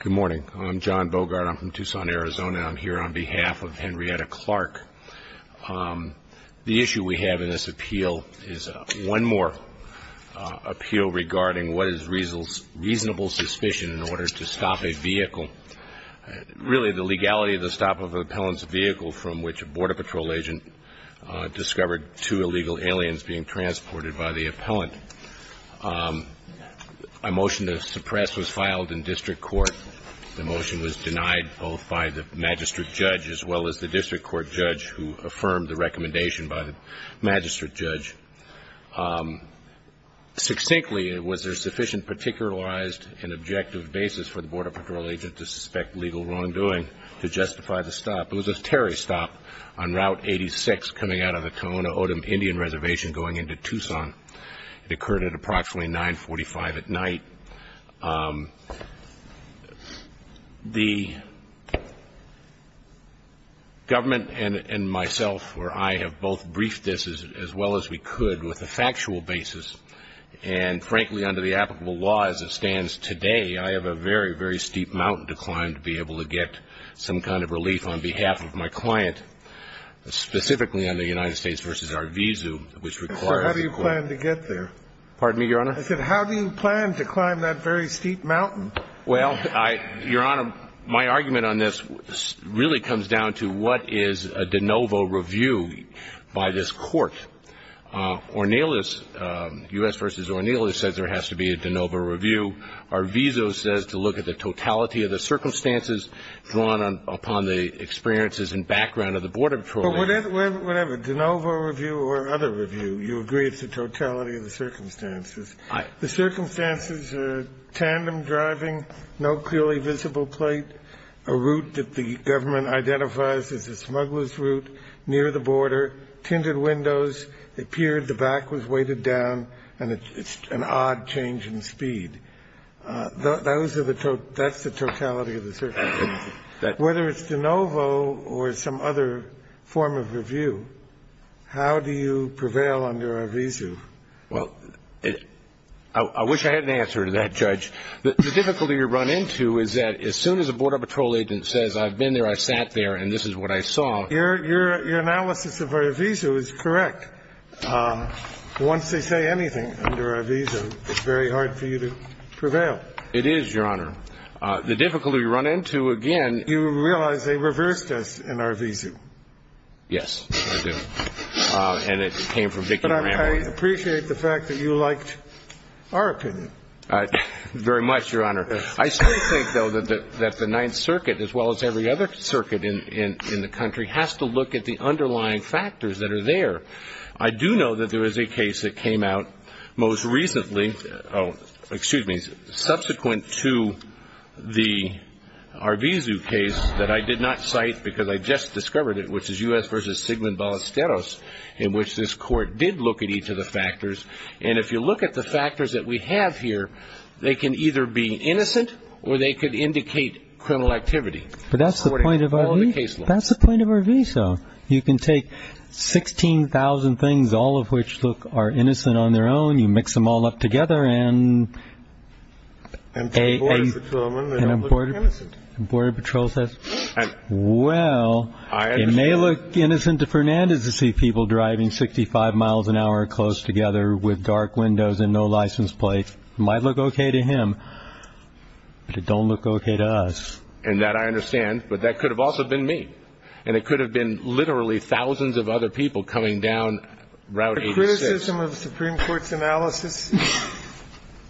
Good morning. I'm John Bogart. I'm from Tucson, Arizona, and I'm here on behalf of Henrietta Clark. The issue we have in this appeal is one more appeal regarding what is reasonable suspicion in order to stop a vehicle. Really, the legality of the stop of an appellant's vehicle from which a Border Patrol agent discovered two illegal aliens being transported by the appellant. A motion to suppress was filed in district court. The motion was denied both by the magistrate judge as well as the district court judge who affirmed the recommendation by the magistrate judge. Succinctly, was there sufficient particularized and objective basis for the Border Patrol agent to suspect legal wrongdoing to justify the stop? It was a Terry stop on Route 86 coming out of the Tohono O'odham Indian Reservation going into Tucson. It occurred at approximately 9.45 at night. The government and myself or I have both briefed this as well as we could with a factual basis. And frankly, under the applicable law as it stands today, I have a very, very steep mountain to climb to be able to get some kind of relief on behalf of my client, specifically on the United States v. Arvizu, which requires a court. So how do you plan to get there? Pardon me, Your Honor? I said how do you plan to climb that very steep mountain? Well, Your Honor, my argument on this really comes down to what is a de novo review by this court. Ornelas, U.S. v. Ornelas, says there has to be a de novo review. Arvizu says to look at the totality of the circumstances drawn upon the experiences and background of the Border Patrol agent. Whatever, de novo review or other review, you agree it's the totality of the circumstances. The circumstances are tandem driving, no clearly visible plate, a route that the government identifies as a smuggler's route near the border, tinted windows, it appeared the back was weighted down, and it's an odd change in speed. That's the totality of the circumstances. Whether it's de novo or some other form of review, how do you prevail under Arvizu? Well, I wish I had an answer to that, Judge. The difficulty you run into is that as soon as a Border Patrol agent says I've been there, I sat there, and this is what I saw. Your analysis of Arvizu is correct. Once they say anything under Arvizu, it's very hard for you to prevail. It is, Your Honor. The difficulty we run into, again ---- You realize they reversed us in Arvizu. Yes, I do. And it came from Vicki Moran. But I appreciate the fact that you liked our opinion. Very much, Your Honor. I still think, though, that the Ninth Circuit, as well as every other circuit in the country, has to look at the underlying factors that are there. I do know that there is a case that came out most recently ---- excuse me, subsequent to the Arvizu case that I did not cite because I just discovered it, which is U.S. v. Sigmund Ballesteros, in which this Court did look at each of the factors. And if you look at the factors that we have here, they can either be innocent or they could indicate criminal activity. But that's the point of Arvizu? That's the point of Arvizu. You can take 16,000 things, all of which are innocent on their own, you mix them all up together and ---- And Border Patrol says ---- Well, it may look innocent to Fernandez to see people driving 65 miles an hour close together with dark windows and no license plates. It might look okay to him, but it don't look okay to us. And that I understand, but that could have also been me. And it could have been literally thousands of other people coming down Route 86. The criticism of the Supreme Court's analysis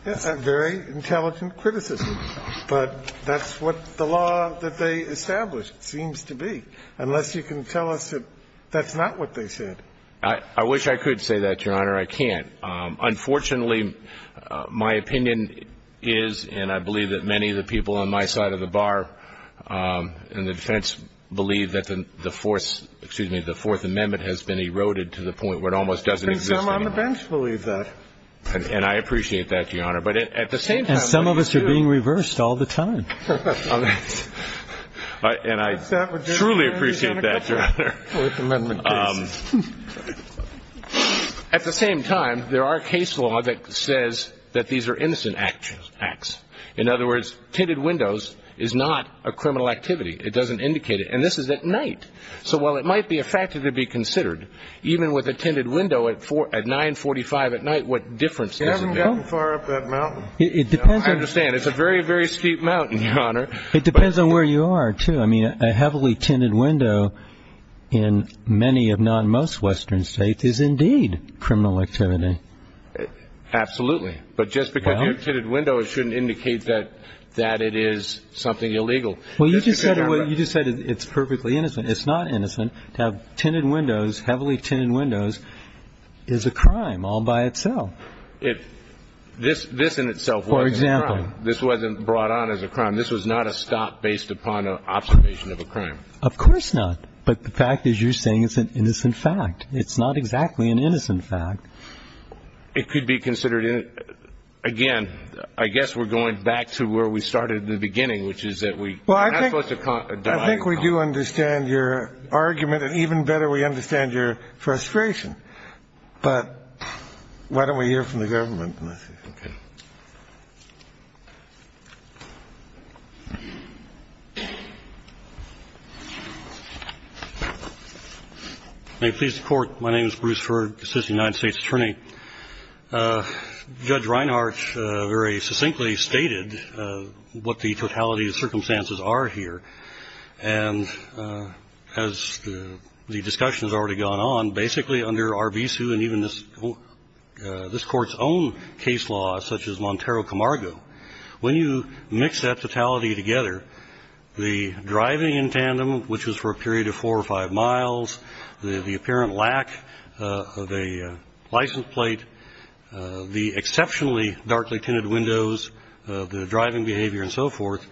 is a very intelligent criticism. But that's what the law that they established seems to be, unless you can tell us that that's not what they said. I wish I could say that, Your Honor. I can't. Unfortunately, my opinion is and I believe that many of the people on my side of the bar and the defense believe that the Fourth Amendment has been eroded to the point where it almost doesn't exist anymore. And some on the bench believe that. And I appreciate that, Your Honor. And some of us are being reversed all the time. And I truly appreciate that, Your Honor. Fourth Amendment case. At the same time, there are case law that says that these are innocent acts. In other words, tinted windows is not a criminal activity. It doesn't indicate it. And this is at night. So while it might be a factor to be considered, even with a tinted window at 945 at night, what difference does it make? You haven't gotten far up that mountain. I understand. It's a very, very steep mountain, Your Honor. It depends on where you are, too. I mean, a heavily tinted window in many if not most Western states is indeed criminal activity. Absolutely. But just because you have tinted windows shouldn't indicate that it is something illegal. Well, you just said it's perfectly innocent. It's not innocent to have tinted windows, heavily tinted windows, is a crime all by itself. This in itself wasn't a crime. For example. This wasn't brought on as a crime. This was not a stop based upon an observation of a crime. Of course not. But the fact is you're saying it's an innocent fact. It's not exactly an innocent fact. It could be considered. Again, I guess we're going back to where we started in the beginning, which is that we are not supposed to deny. I think we do understand your argument, and even better, we understand your frustration. But why don't we hear from the government? Okay. May it please the Court. My name is Bruce Heard, assistant United States attorney. Judge Reinhart very succinctly stated what the totality of circumstances are here. And as the discussion has already gone on, basically under R.B. Sue and even this Court's own case law, such as Montero Camargo, when you mix that totality together, the driving in tandem, which was for a period of four or five miles, the apparent lack of a license plate, the exceptionally darkly tinted windows, the driving behavior and so forth,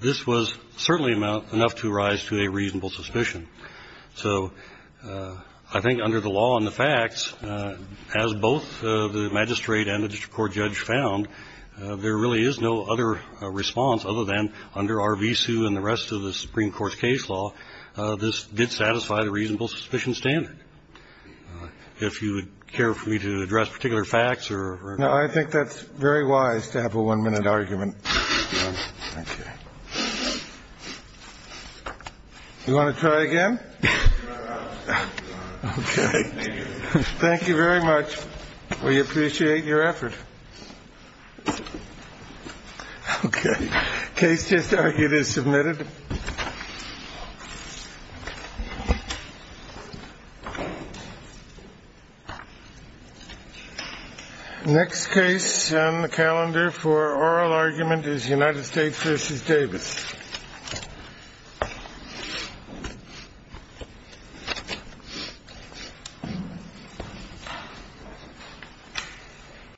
this was certainly enough to rise to a reasonable suspicion. So I think under the law and the facts, as both the magistrate and the court judge found, there really is no other response other than under R.B. Sue and the rest of the Supreme Court's case law. This did satisfy the reasonable suspicion standard. If you would care for me to address particular facts or. No, I think that's very wise to have a one minute argument. OK. You want to try again? OK. Thank you very much. We appreciate your effort. OK. Case just argued is submitted. Next case on the calendar for oral argument is United States versus Davis.